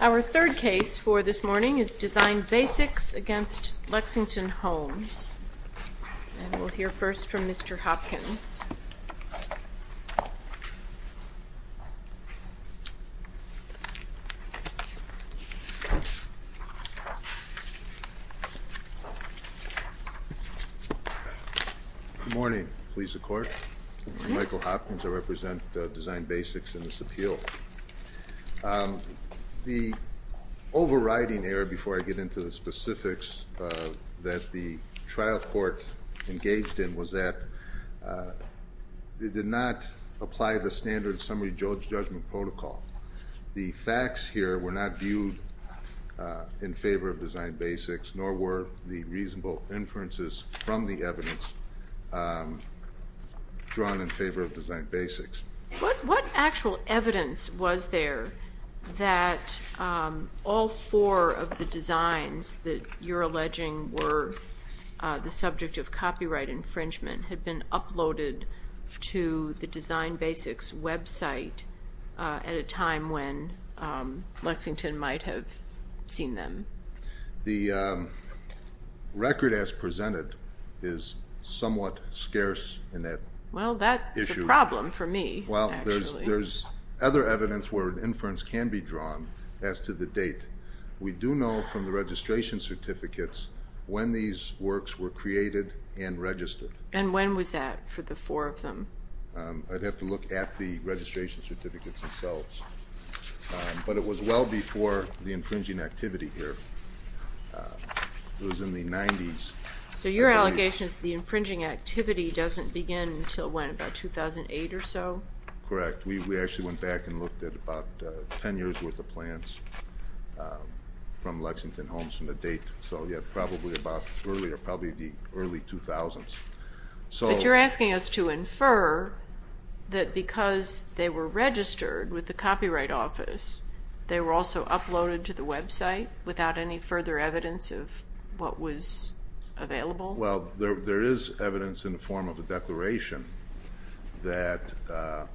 Our third case for this morning is Design Basics v. Lexington Homes. We'll hear first from Mr. Hopkins. Good morning, Police and Court. I'm Michael Hopkins. I represent Design Basics in this appeal. The overriding error, before I get into the specifics, that the trial court engaged in was that it did not apply the standard summary judgment protocol. The facts here were not viewed in favor of Design Basics, nor were the reasonable inferences from the evidence drawn in favor of Design Basics. What actual evidence was there that all four of the designs that you're alleging were the subject of copyright infringement had been uploaded to the Design Basics website at a time when Lexington might have seen them? The record as presented is somewhat scarce in that issue. Well, that's a problem for me, actually. Well, there's other evidence where an inference can be drawn as to the date. We do know from the registration certificates when these works were created and registered. And when was that for the four of them? I'd have to look at the registration certificates themselves. But it was well before the infringing activity here. It was in the 90s. So your allegation is the infringing activity doesn't begin until when, about 2008 or so? Correct. We actually went back and looked at about 10 years' worth of plans from Lexington Homes from the date. So, yeah, probably about earlier, probably the early 2000s. But you're asking us to infer that because they were registered with the Copyright Office, they were also uploaded to the website without any further evidence of what was available? Well, there is evidence in the form of a declaration that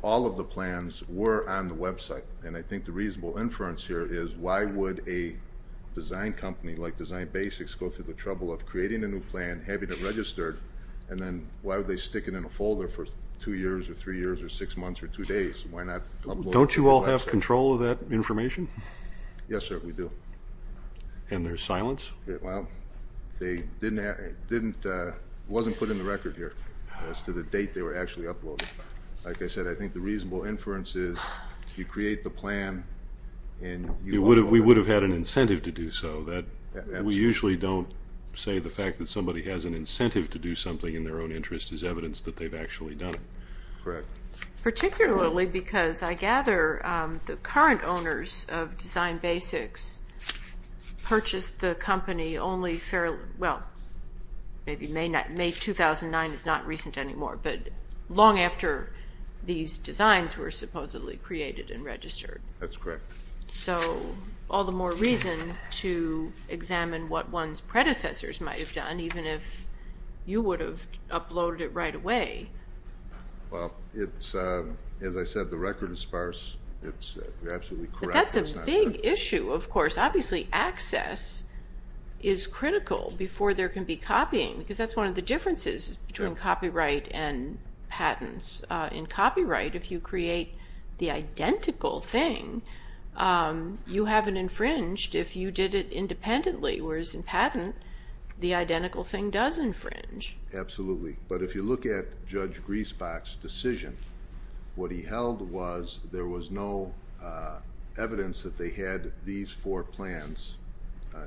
all of the plans were on the website. And I think the reasonable inference here is why would a design company like Design Basics go through the trouble of creating a new plan, having it registered, and then why would they stick it in a folder for two years or three years or six months or two days? Don't you all have control of that information? Yes, sir, we do. And there's silence? Well, it wasn't put in the record here as to the date they were actually uploaded. Like I said, I think the reasonable inference is you create the plan and you upload it. We would have had an incentive to do so. We usually don't say the fact that somebody has an incentive to do something in their own interest is evidence that they've actually done it. Correct. Particularly because I gather the current owners of Design Basics purchased the company only fairly, well, maybe May 2009 is not recent anymore, but long after these designs were supposedly created and registered. That's correct. So all the more reason to examine what one's predecessors might have done, even if you would have uploaded it right away. Well, as I said, the record is sparse. You're absolutely correct. But that's a big issue, of course. Obviously access is critical before there can be copying because that's one of the differences between copyright and patents. In copyright, if you create the identical thing, you haven't infringed if you did it independently, whereas in patent, the identical thing does infringe. Absolutely. But if you look at Judge Griesbach's decision, what he held was there was no evidence that they had these four plans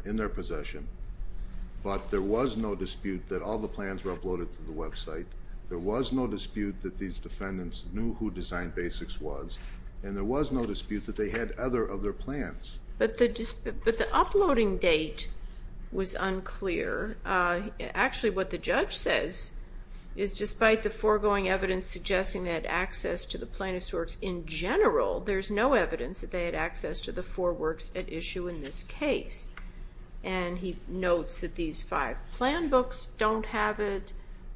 in their possession, but there was no dispute that all the plans were uploaded to the website. There was no dispute that these defendants knew who Design Basics was, and there was no dispute that they had other plans. But the uploading date was unclear. Actually, what the judge says is, despite the foregoing evidence suggesting they had access to the plaintiffs' works in general, there's no evidence that they had access to the four works at issue in this case. And he notes that these five plan books don't have it.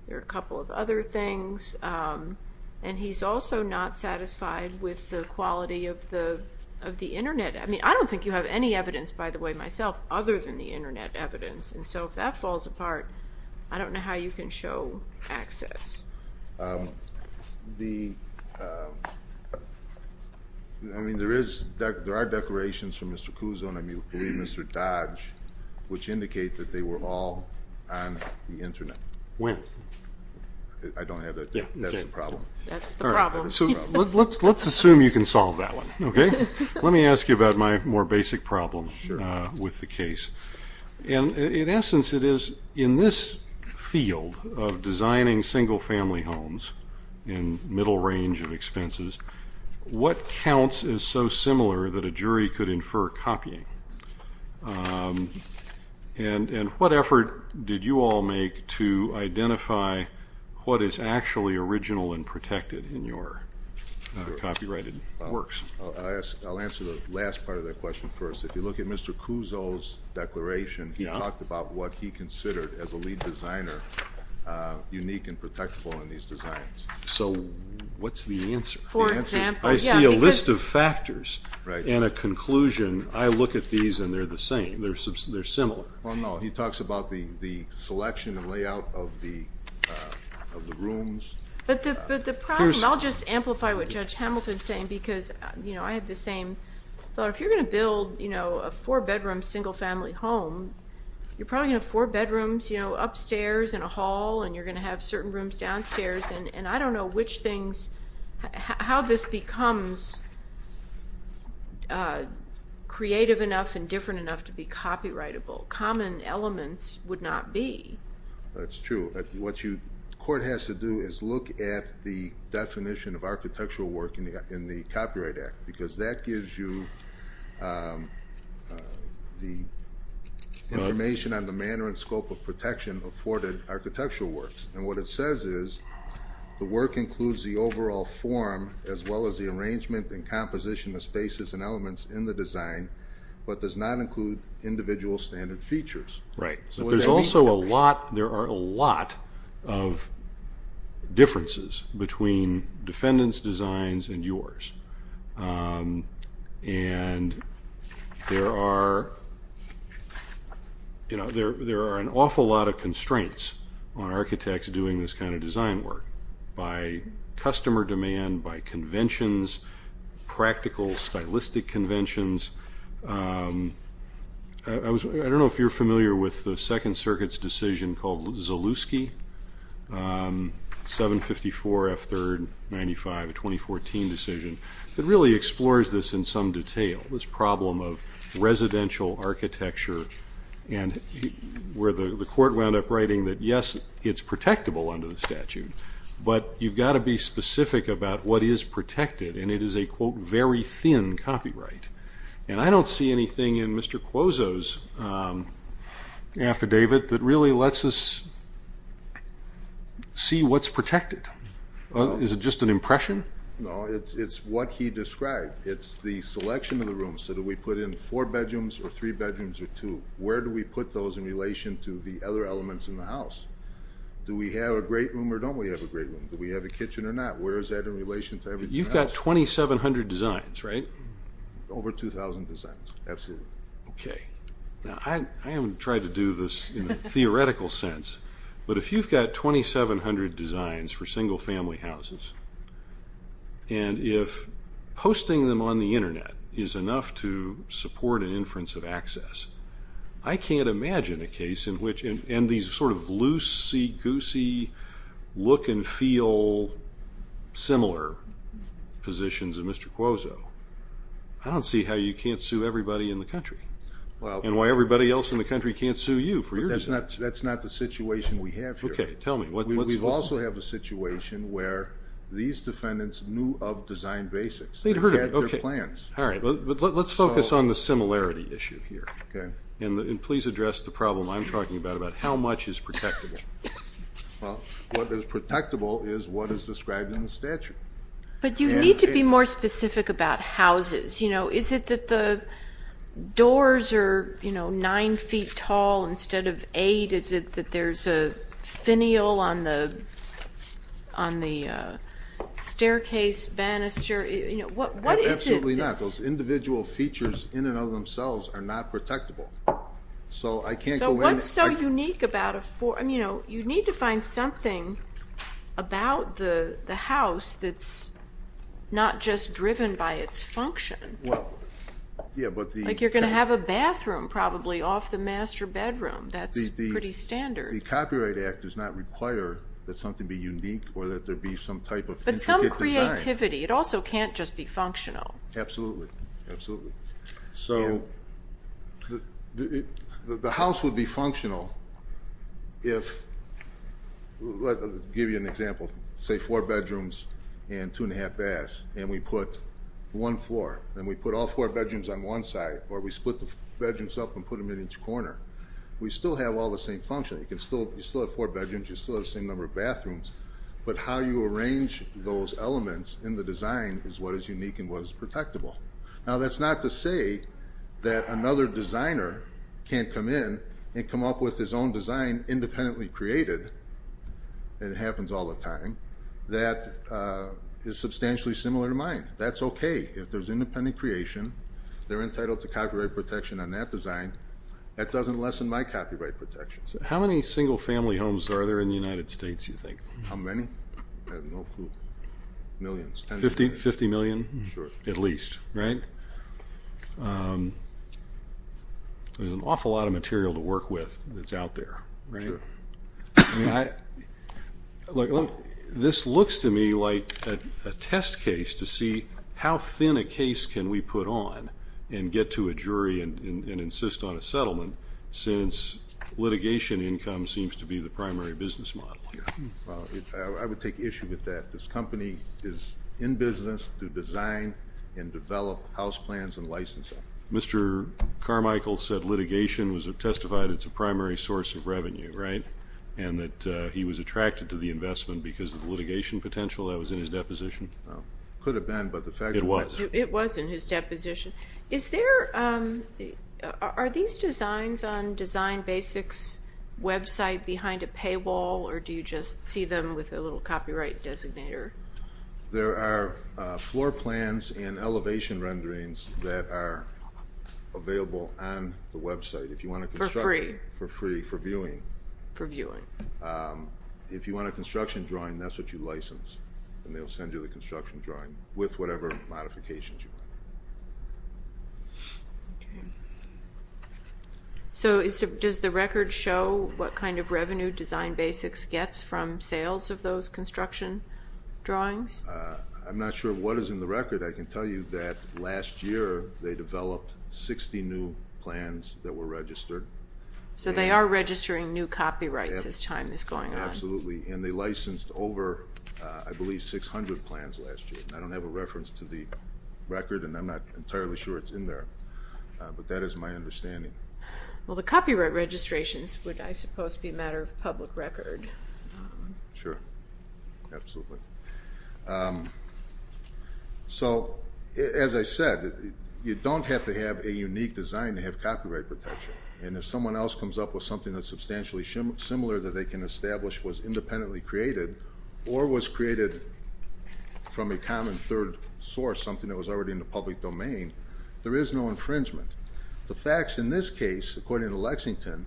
There are a couple of other things. And he's also not satisfied with the quality of the Internet. I mean, I don't think you have any evidence, by the way, myself, other than the Internet evidence. And so if that falls apart, I don't know how you can show access. I mean, there are declarations from Mr. Cuso and I believe Mr. Dodge which indicate that they were all on the Internet. When? I don't have that. That's the problem. That's the problem. All right. So let's assume you can solve that one, okay? Let me ask you about my more basic problem with the case. And, in essence, it is in this field of designing single-family homes and middle range of expenses, what counts as so similar that a jury could infer copying? And what effort did you all make to identify what is actually original and protected in your copyrighted works? I'll answer the last part of that question first. If you look at Mr. Cuso's declaration, he talked about what he considered, as a lead designer, unique and protectable in these designs. So what's the answer? For example, yeah. I see a list of factors and a conclusion. I look at these and they're the same. They're similar. Well, no. He talks about the selection and layout of the rooms. But the problem, I'll just amplify what Judge Hamilton is saying because I had the same thought. If you're going to build a four-bedroom single-family home, you're probably going to have four bedrooms upstairs in a hall and you're going to have certain rooms downstairs. And I don't know how this becomes creative enough and different enough to be copyrightable. Common elements would not be. That's true. What the court has to do is look at the definition of architectural work in the Copyright Act because that gives you the information on the manner and scope of protection afforded architectural works. And what it says is the work includes the overall form, as well as the arrangement and composition of spaces and elements in the design, but does not include individual standard features. There are a lot of differences between defendants' designs and yours. And there are an awful lot of constraints on architects doing this kind of design work by customer demand, by conventions, practical, stylistic conventions. I don't know if you're familiar with the Second Circuit's decision called Zalewski, 754 F3rd 95, a 2014 decision, that really explores this in some detail, this problem of residential architecture, where the court wound up writing that, yes, it's protectable under the statute, but you've got to be specific about what is protected, and it is a, quote, very thin copyright. And I don't see anything in Mr. Quozzo's affidavit that really lets us see what's protected. Is it just an impression? No, it's what he described. It's the selection of the room. So do we put in four bedrooms or three bedrooms or two? Where do we put those in relation to the other elements in the house? Do we have a great room or don't we have a great room? Do we have a kitchen or not? Where is that in relation to everything else? You've got 2,700 designs, right? Over 2,000 designs, absolutely. Okay, now I haven't tried to do this in a theoretical sense, but if you've got 2,700 designs for single-family houses and if posting them on the Internet is enough to support an inference of access, I can't imagine a case in which in these sort of loosey-goosey, look-and-feel, similar positions of Mr. Quozzo. I don't see how you can't sue everybody in the country and why everybody else in the country can't sue you for your designs. But that's not the situation we have here. Okay, tell me. We also have a situation where these defendants knew of design basics. They had their plans. All right, but let's focus on the similarity issue here. Okay. And please address the problem I'm talking about, about how much is protectable. Well, what is protectable is what is described in the statute. But you need to be more specific about houses. Is it that the doors are 9 feet tall instead of 8? Is it that there's a finial on the staircase banister? Absolutely not. Those individual features in and of themselves are not protectable. So I can't go in and ---- So what's so unique about a ---- You need to find something about the house that's not just driven by its function. Well, yeah, but the ---- Like you're going to have a bathroom probably off the master bedroom. That's pretty standard. The Copyright Act does not require that something be unique or that there be some type of intricate design. But some creativity. It also can't just be functional. Absolutely, absolutely. So the house would be functional if, let me give you an example, say four bedrooms and two and a half baths and we put one floor and we put all four bedrooms on one side or we split the bedrooms up and put them in each corner. We still have all the same function. You still have four bedrooms. You still have the same number of bathrooms. But how you arrange those elements in the design is what is unique and what is protectable. Now that's not to say that another designer can't come in and come up with his own design independently created, and it happens all the time, that is substantially similar to mine. That's okay. If there's independent creation, they're entitled to copyright protection on that design. That doesn't lessen my copyright protection. How many single-family homes are there in the United States, you think? How many? I have no clue. Millions, tens of millions. Fifty million? Sure. At least, right? There's an awful lot of material to work with that's out there, right? Sure. This looks to me like a test case to see how thin a case can we put on and get to a jury and insist on a settlement since litigation income seems to be the primary business model. I would take issue with that. This company is in business to design and develop house plans and licensing. Mr. Carmichael said litigation testified it's a primary source of revenue, right, and that he was attracted to the investment because of the litigation potential. That was in his deposition. It could have been, but the fact is it was. It was in his deposition. Are these designs on Design Basics' website behind a paywall, or do you just see them with a little copyright designator? There are floor plans and elevation renderings that are available on the website. For free? For free, for viewing. For viewing. If you want a construction drawing, that's what you license, and they'll send you the construction drawing with whatever modifications you want. Okay. So does the record show what kind of revenue Design Basics gets from sales of those construction drawings? I'm not sure what is in the record. I can tell you that last year they developed 60 new plans that were registered. So they are registering new copyrights as time is going on. Absolutely, and they licensed over, I believe, 600 plans last year. I don't have a reference to the record, and I'm not entirely sure it's in there, but that is my understanding. Well, the copyright registrations would, I suppose, be a matter of public record. Sure, absolutely. As I said, you don't have to have a unique design to have copyright protection, and if someone else comes up with something that's substantially similar that they can establish was independently created or was created from a common third source, something that was already in the public domain, there is no infringement. The facts in this case, according to Lexington,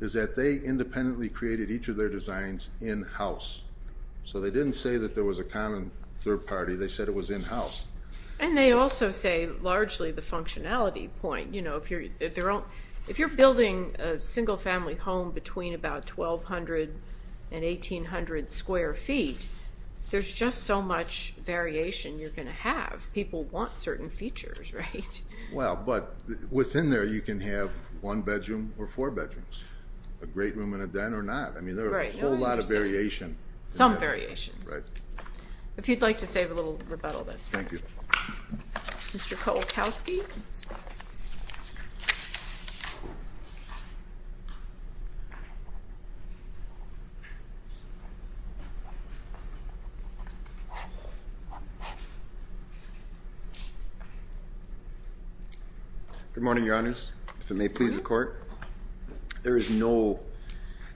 is that they independently created each of their designs in-house. So they didn't say that there was a common third party. They said it was in-house. And they also say largely the functionality point. If you're building a single-family home between about 1,200 and 1,800 square feet, there's just so much variation you're going to have. People want certain features, right? Well, but within there, you can have one bedroom or four bedrooms, a great room and a den or not. I mean, there are a whole lot of variation. Some variations. If you'd like to save a little rebuttal, that's fine. Thank you. Mr. Kowalkowski. Good morning, Your Honors. If it may please the Court. There is no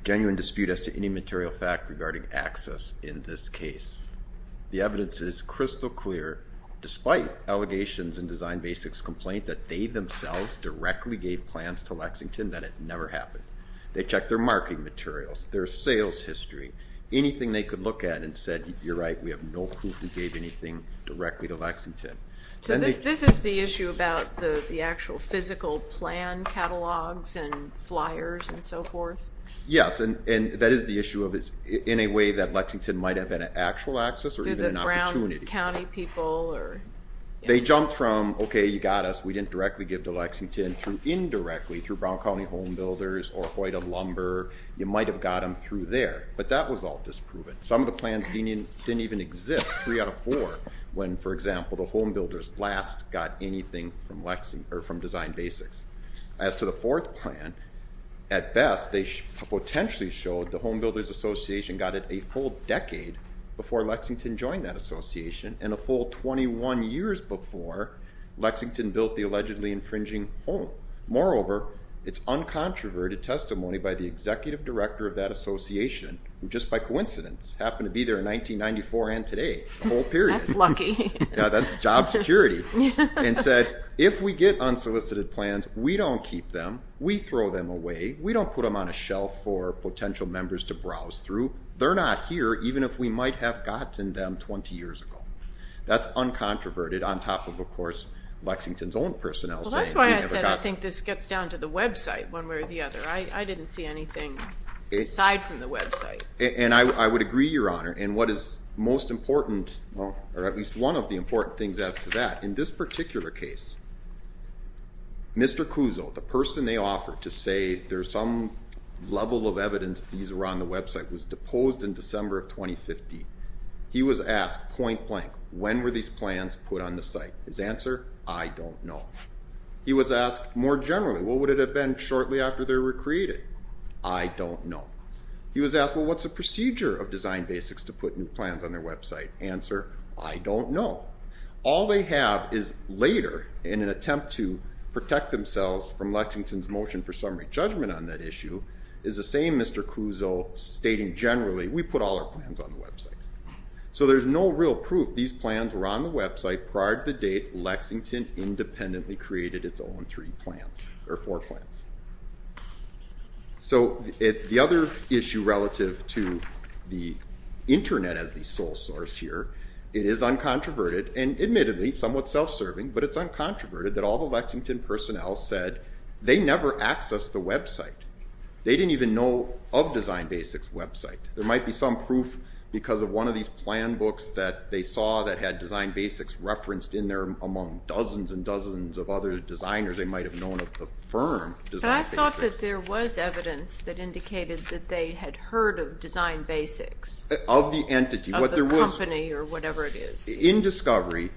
genuine dispute as to any material fact regarding access in this case. The evidence is crystal clear, despite allegations in Design Basics' complaint that they themselves directly gave plans to Lexington, that it never happened. They checked their marketing materials, their sales history, anything they could look at and said, you're right, we have no proof we gave anything directly to Lexington. So this is the issue about the actual physical plan catalogs and flyers and so forth? Yes, and that is the issue of in a way that Lexington might have been an actual access or even an opportunity. Did the Brown County people or? They jumped from, okay, you got us, we didn't directly give to Lexington, through indirectly, through Brown County Home Builders or Hoyda Lumber, you might have got them through there. But that was all disproven. Some of the plans didn't even exist, three out of four, when, for example, the Home Builders last got anything from Design Basics. As to the fourth plan, at best, they potentially showed the Home Builders Association got it a full decade before Lexington joined that association, and a full 21 years before Lexington built the allegedly infringing home. Moreover, it's uncontroverted testimony by the executive director of that association, who just by coincidence happened to be there in 1994 and today, the whole period. That's lucky. Yeah, that's job security, and said, if we get unsolicited plans, we don't keep them, we throw them away, we don't put them on a shelf for potential members to browse through. They're not here, even if we might have gotten them 20 years ago. That's uncontroverted, on top of, of course, Lexington's own personnel. Well, that's why I said I think this gets down to the website, one way or the other. I didn't see anything aside from the website. And I would agree, Your Honor. And what is most important, or at least one of the important things as to that, in this particular case, Mr. Cuso, the person they offered to say there's some level of evidence these were on the website, was deposed in December of 2015. He was asked point blank, when were these plans put on the site? His answer, I don't know. He was asked more generally, what would it have been shortly after they were created? I don't know. He was asked, well, what's the procedure of Design Basics to put new plans on their website? Answer, I don't know. Well, all they have is later, in an attempt to protect themselves from Lexington's motion for summary judgment on that issue, is the same Mr. Cuso stating generally, we put all our plans on the website. So there's no real proof these plans were on the website prior to the date Lexington independently created its own three plans, or four plans. So the other issue relative to the internet as the sole source here, it is uncontroverted, and admittedly somewhat self-serving, but it's uncontroverted that all the Lexington personnel said they never accessed the website. They didn't even know of Design Basics' website. There might be some proof because of one of these plan books that they saw that had Design Basics referenced in there among dozens and dozens of other designers they might have known of the firm But I thought that there was evidence that indicated that they had heard of Design Basics. Of the entity. Of the company or whatever it is. In discovery,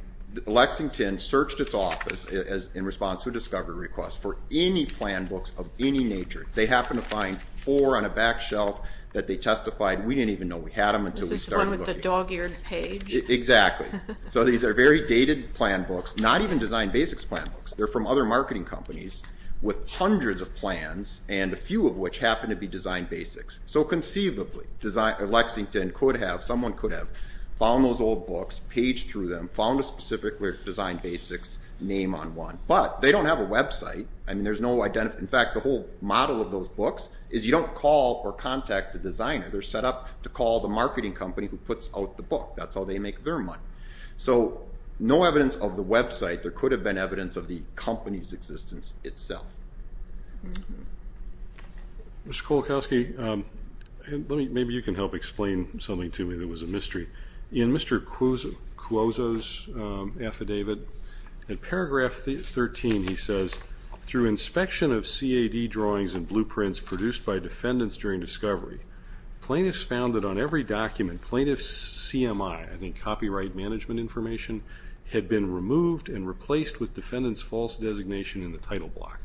Lexington searched its office in response to a discovery request for any plan books of any nature. They happened to find four on a back shelf that they testified we didn't even know we had them until we started looking. This is the one with the dog-eared page? Exactly. So these are very dated plan books, not even Design Basics plan books. They're from other marketing companies with hundreds of plans and a few of which happen to be Design Basics. So conceivably, Lexington could have, someone could have, found those old books, paged through them, found a specific Design Basics name on one. But they don't have a website. In fact, the whole model of those books is you don't call or contact the designer. They're set up to call the marketing company who puts out the book. That's how they make their money. So no evidence of the website. There could have been evidence of the company's existence itself. Mr. Kolakowski, maybe you can help explain something to me that was a mystery. In Mr. Cuozzo's affidavit, in paragraph 13 he says, through inspection of CAD drawings and blueprints produced by defendants during discovery, plaintiffs found that on every document plaintiff's CMI, I think copyright management information, had been removed and replaced with defendant's false designation in the title block.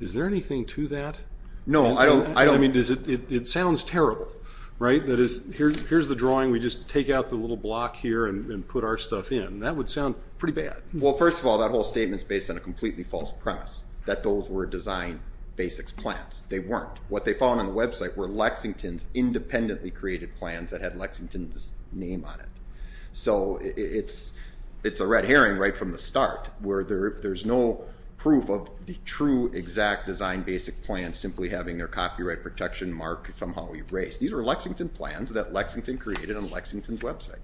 Is there anything to that? No, I don't. I mean, it sounds terrible, right? That is, here's the drawing. We just take out the little block here and put our stuff in. That would sound pretty bad. Well, first of all, that whole statement's based on a completely false premise, that those were Design Basics plans. They weren't. What they found on the website were Lexington's independently created plans that had Lexington's name on it. So it's a red herring right from the start, where there's no proof of the true exact Design Basic plan simply having their copyright protection mark somehow erased. These were Lexington plans that Lexington created on Lexington's website.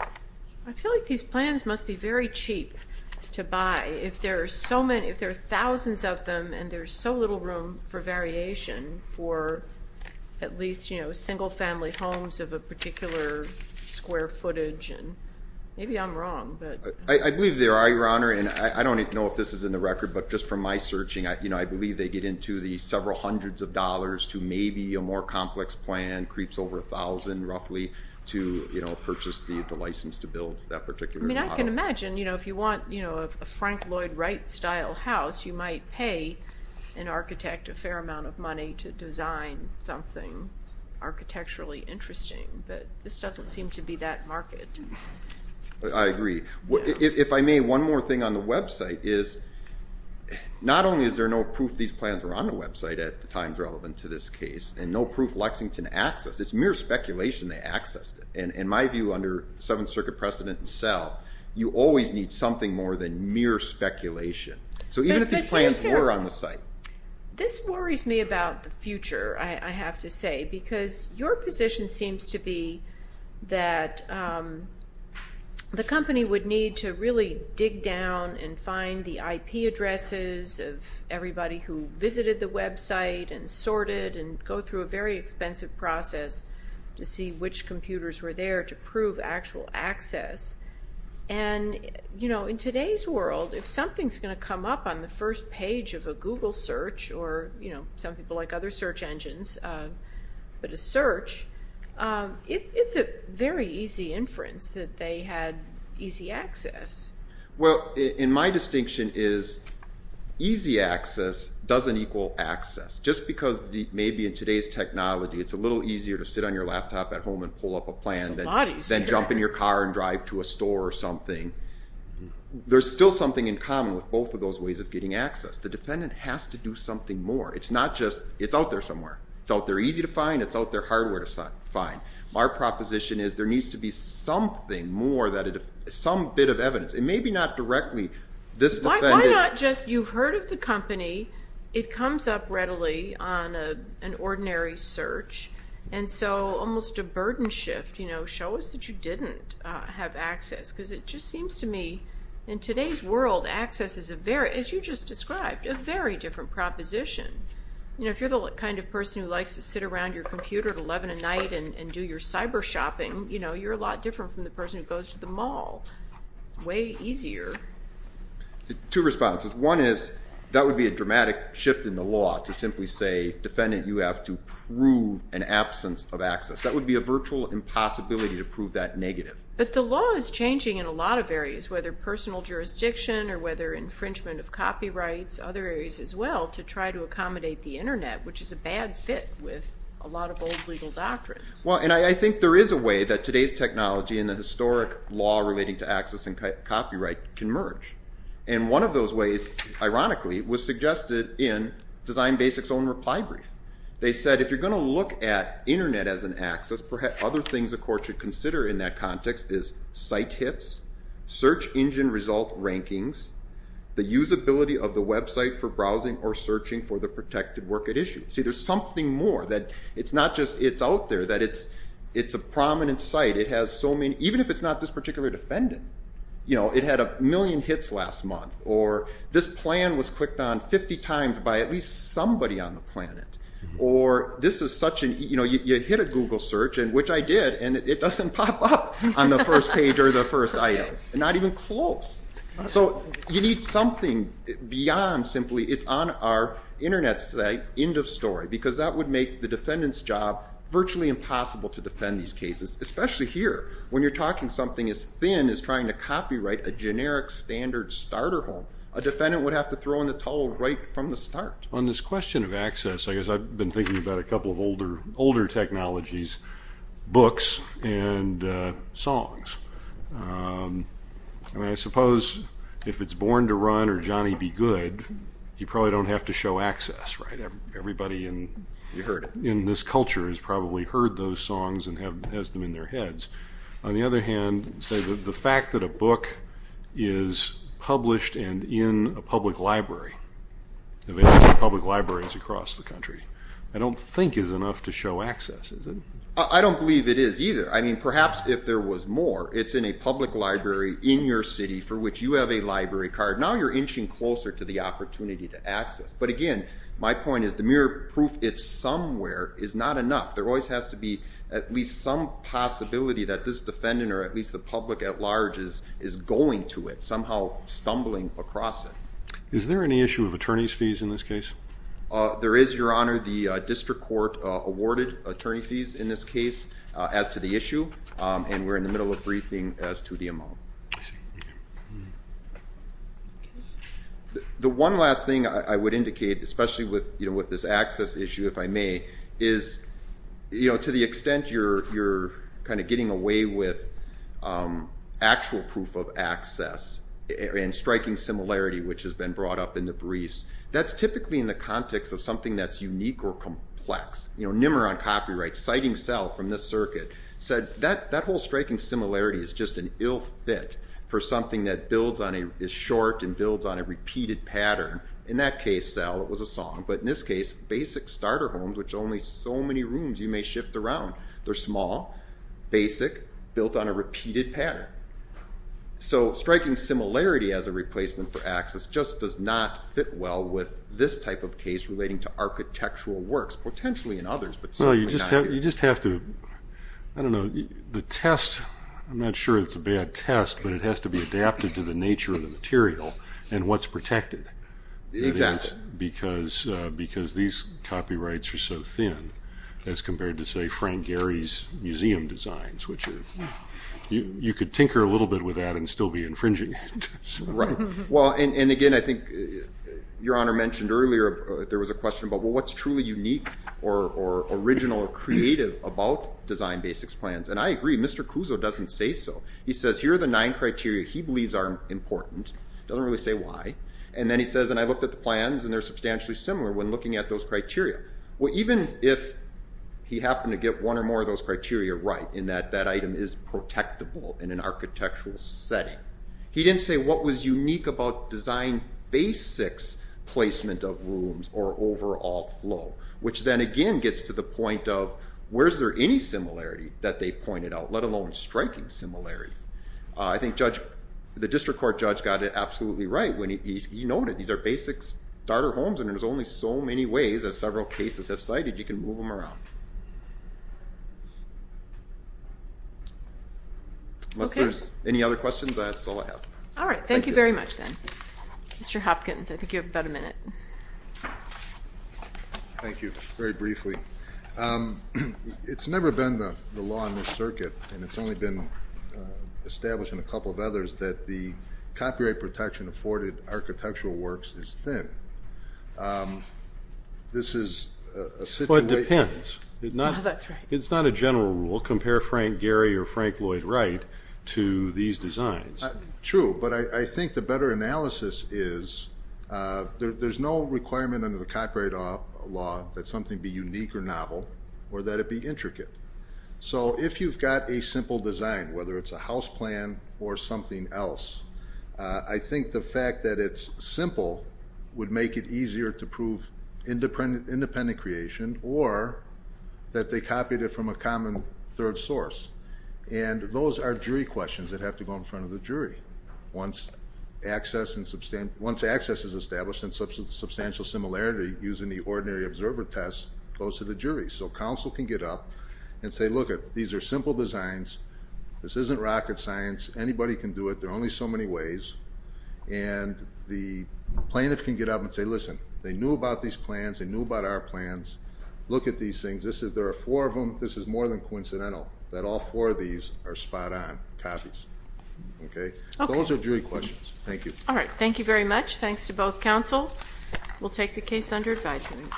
I feel like these plans must be very cheap to buy. If there are thousands of them and there's so little room for variation for at least single-family homes of a particular square footage, maybe I'm wrong. I believe there are, Your Honor. I don't know if this is in the record, but just from my searching, I believe they get into the several hundreds of dollars to maybe a more complex plan, creeps over $1,000 roughly to purchase the license to build that particular model. I can imagine. If you want a Frank Lloyd Wright-style house, you might pay an architect a fair amount of money to design something architecturally interesting, but this doesn't seem to be that market. I agree. If I may, one more thing on the website is not only is there no proof these plans were on the website at the times relevant to this case and no proof Lexington accessed it. It's mere speculation they accessed it. In my view, under Seventh Circuit precedent itself, you always need something more than mere speculation. Even if these plans were on the site. This worries me about the future, I have to say, because your position seems to be that the company would need to really dig down and find the IP addresses of everybody who visited the website and sorted and go through a very expensive process to see which computers were there to prove actual access. In today's world, if something's going to come up on the first page of a Google search or some people like other search engines, but a search, it's a very easy inference that they had easy access. Well, my distinction is easy access doesn't equal access. Just because maybe in today's technology it's a little easier to sit on your laptop at home and pull up a plan than jump in your car and drive to a store or something. There's still something in common with both of those ways of getting access. The defendant has to do something more. It's not just it's out there somewhere. It's out there easy to find. It's out there hardware to find. Our proposition is there needs to be something more, some bit of evidence. It may be not directly this defendant. Why not just you've heard of the company. It comes up readily on an ordinary search. Almost a burden shift, show us that you didn't have access because it just seems to me in today's world access is a very, as you just described, a very different proposition. If you're the kind of person who likes to sit around your computer at 11 at night and do your cyber shopping, you're a lot different from the person who goes to the mall. It's way easier. Two responses. One is that would be a dramatic shift in the law to simply say, if you're the defendant, you have to prove an absence of access. That would be a virtual impossibility to prove that negative. But the law is changing in a lot of areas, whether personal jurisdiction or whether infringement of copyrights, other areas as well, to try to accommodate the Internet, which is a bad fit with a lot of old legal doctrines. Well, and I think there is a way that today's technology and the historic law relating to access and copyright can merge. And one of those ways, ironically, was suggested in Design Basics' own reply brief. They said if you're going to look at Internet as an access, other things a court should consider in that context is site hits, search engine result rankings, the usability of the website for browsing or searching for the protected work at issue. See, there's something more that it's not just it's out there, that it's a prominent site. It has so many, even if it's not this particular defendant, and, you know, it had a million hits last month, or this plan was clicked on 50 times by at least somebody on the planet, or this is such an, you know, you hit a Google search, which I did, and it doesn't pop up on the first page or the first item. Not even close. So you need something beyond simply it's on our Internet site, end of story, because that would make the defendant's job virtually impossible to defend these cases, especially here when you're talking something as thin as trying to copyright a generic standard starter home. A defendant would have to throw in the towel right from the start. On this question of access, I guess I've been thinking about a couple of older technologies, books and songs. I mean, I suppose if it's Born to Run or Johnny B. Good, you probably don't have to show access, right? Everybody in this culture has probably heard those songs and has them in their heads. On the other hand, the fact that a book is published and in a public library, available in public libraries across the country, I don't think is enough to show access. I don't believe it is either. I mean, perhaps if there was more, it's in a public library in your city for which you have a library card. Now you're inching closer to the opportunity to access. But, again, my point is the mere proof it's somewhere is not enough. There always has to be at least some possibility that this defendant or at least the public at large is going to it, somehow stumbling across it. Is there any issue of attorney's fees in this case? There is, Your Honor. The district court awarded attorney fees in this case as to the issue, and we're in the middle of briefing as to the amount. The one last thing I would indicate, especially with this access issue, if I may, is to the extent you're kind of getting away with actual proof of access and striking similarity, which has been brought up in the briefs, that's typically in the context of something that's unique or complex. Nimmer on copyright, citing Sell from this circuit, said that whole striking similarity is just an ill fit for something that is short and builds on a repeated pattern. In that case, Sell, it was a song. But in this case, basic starter homes, which only so many rooms you may shift around, they're small, basic, built on a repeated pattern. So striking similarity as a replacement for access just does not fit well with this type of case relating to architectural works, potentially in others. You just have to, I don't know, the test, I'm not sure it's a bad test, but it has to be adapted to the nature of the material and what's protected. Exactly. And that's because these copyrights are so thin as compared to, say, Frank Gehry's museum designs, which you could tinker a little bit with that and still be infringing it. Right. Well, and again, I think Your Honor mentioned earlier there was a question about, well, what's truly unique or original or creative about design basics plans? And I agree, Mr. Cuso doesn't say so. He says here are the nine criteria he believes are important. He doesn't really say why. And then he says, and I looked at the plans, and they're substantially similar when looking at those criteria. Even if he happened to get one or more of those criteria right, in that that item is protectable in an architectural setting, he didn't say what was unique about design basics placement of rooms or overall flow, which then again gets to the point of, where's there any similarity that they pointed out, let alone striking similarity? I think the district court judge got it absolutely right when he noted these are basic starter homes and there's only so many ways, as several cases have cited, you can move them around. Unless there's any other questions, that's all I have. All right. Thank you very much then. Mr. Hopkins, I think you have about a minute. Thank you. Very briefly. It's never been the law in this circuit, and it's only been established in a couple of others, that the copyright protection afforded architectural works is thin. This is a situation. But it depends. No, that's right. It's not a general rule. Compare Frank Gehry or Frank Lloyd Wright to these designs. True. But I think the better analysis is there's no requirement under the law that it be unique or novel or that it be intricate. So if you've got a simple design, whether it's a house plan or something else, I think the fact that it's simple would make it easier to prove independent creation or that they copied it from a common third source. And those are jury questions that have to go in front of the jury. Once access is established and substantial similarity using the ordinary observer test goes to the jury. So counsel can get up and say, look, these are simple designs. This isn't rocket science. Anybody can do it. There are only so many ways. And the plaintiff can get up and say, listen, they knew about these plans. They knew about our plans. Look at these things. There are four of them. This is more than coincidental that all four of these are spot-on copies. Okay? Those are jury questions. Thank you. All right. Thank you very much. Thanks to both counsel. We'll take the case under advisement.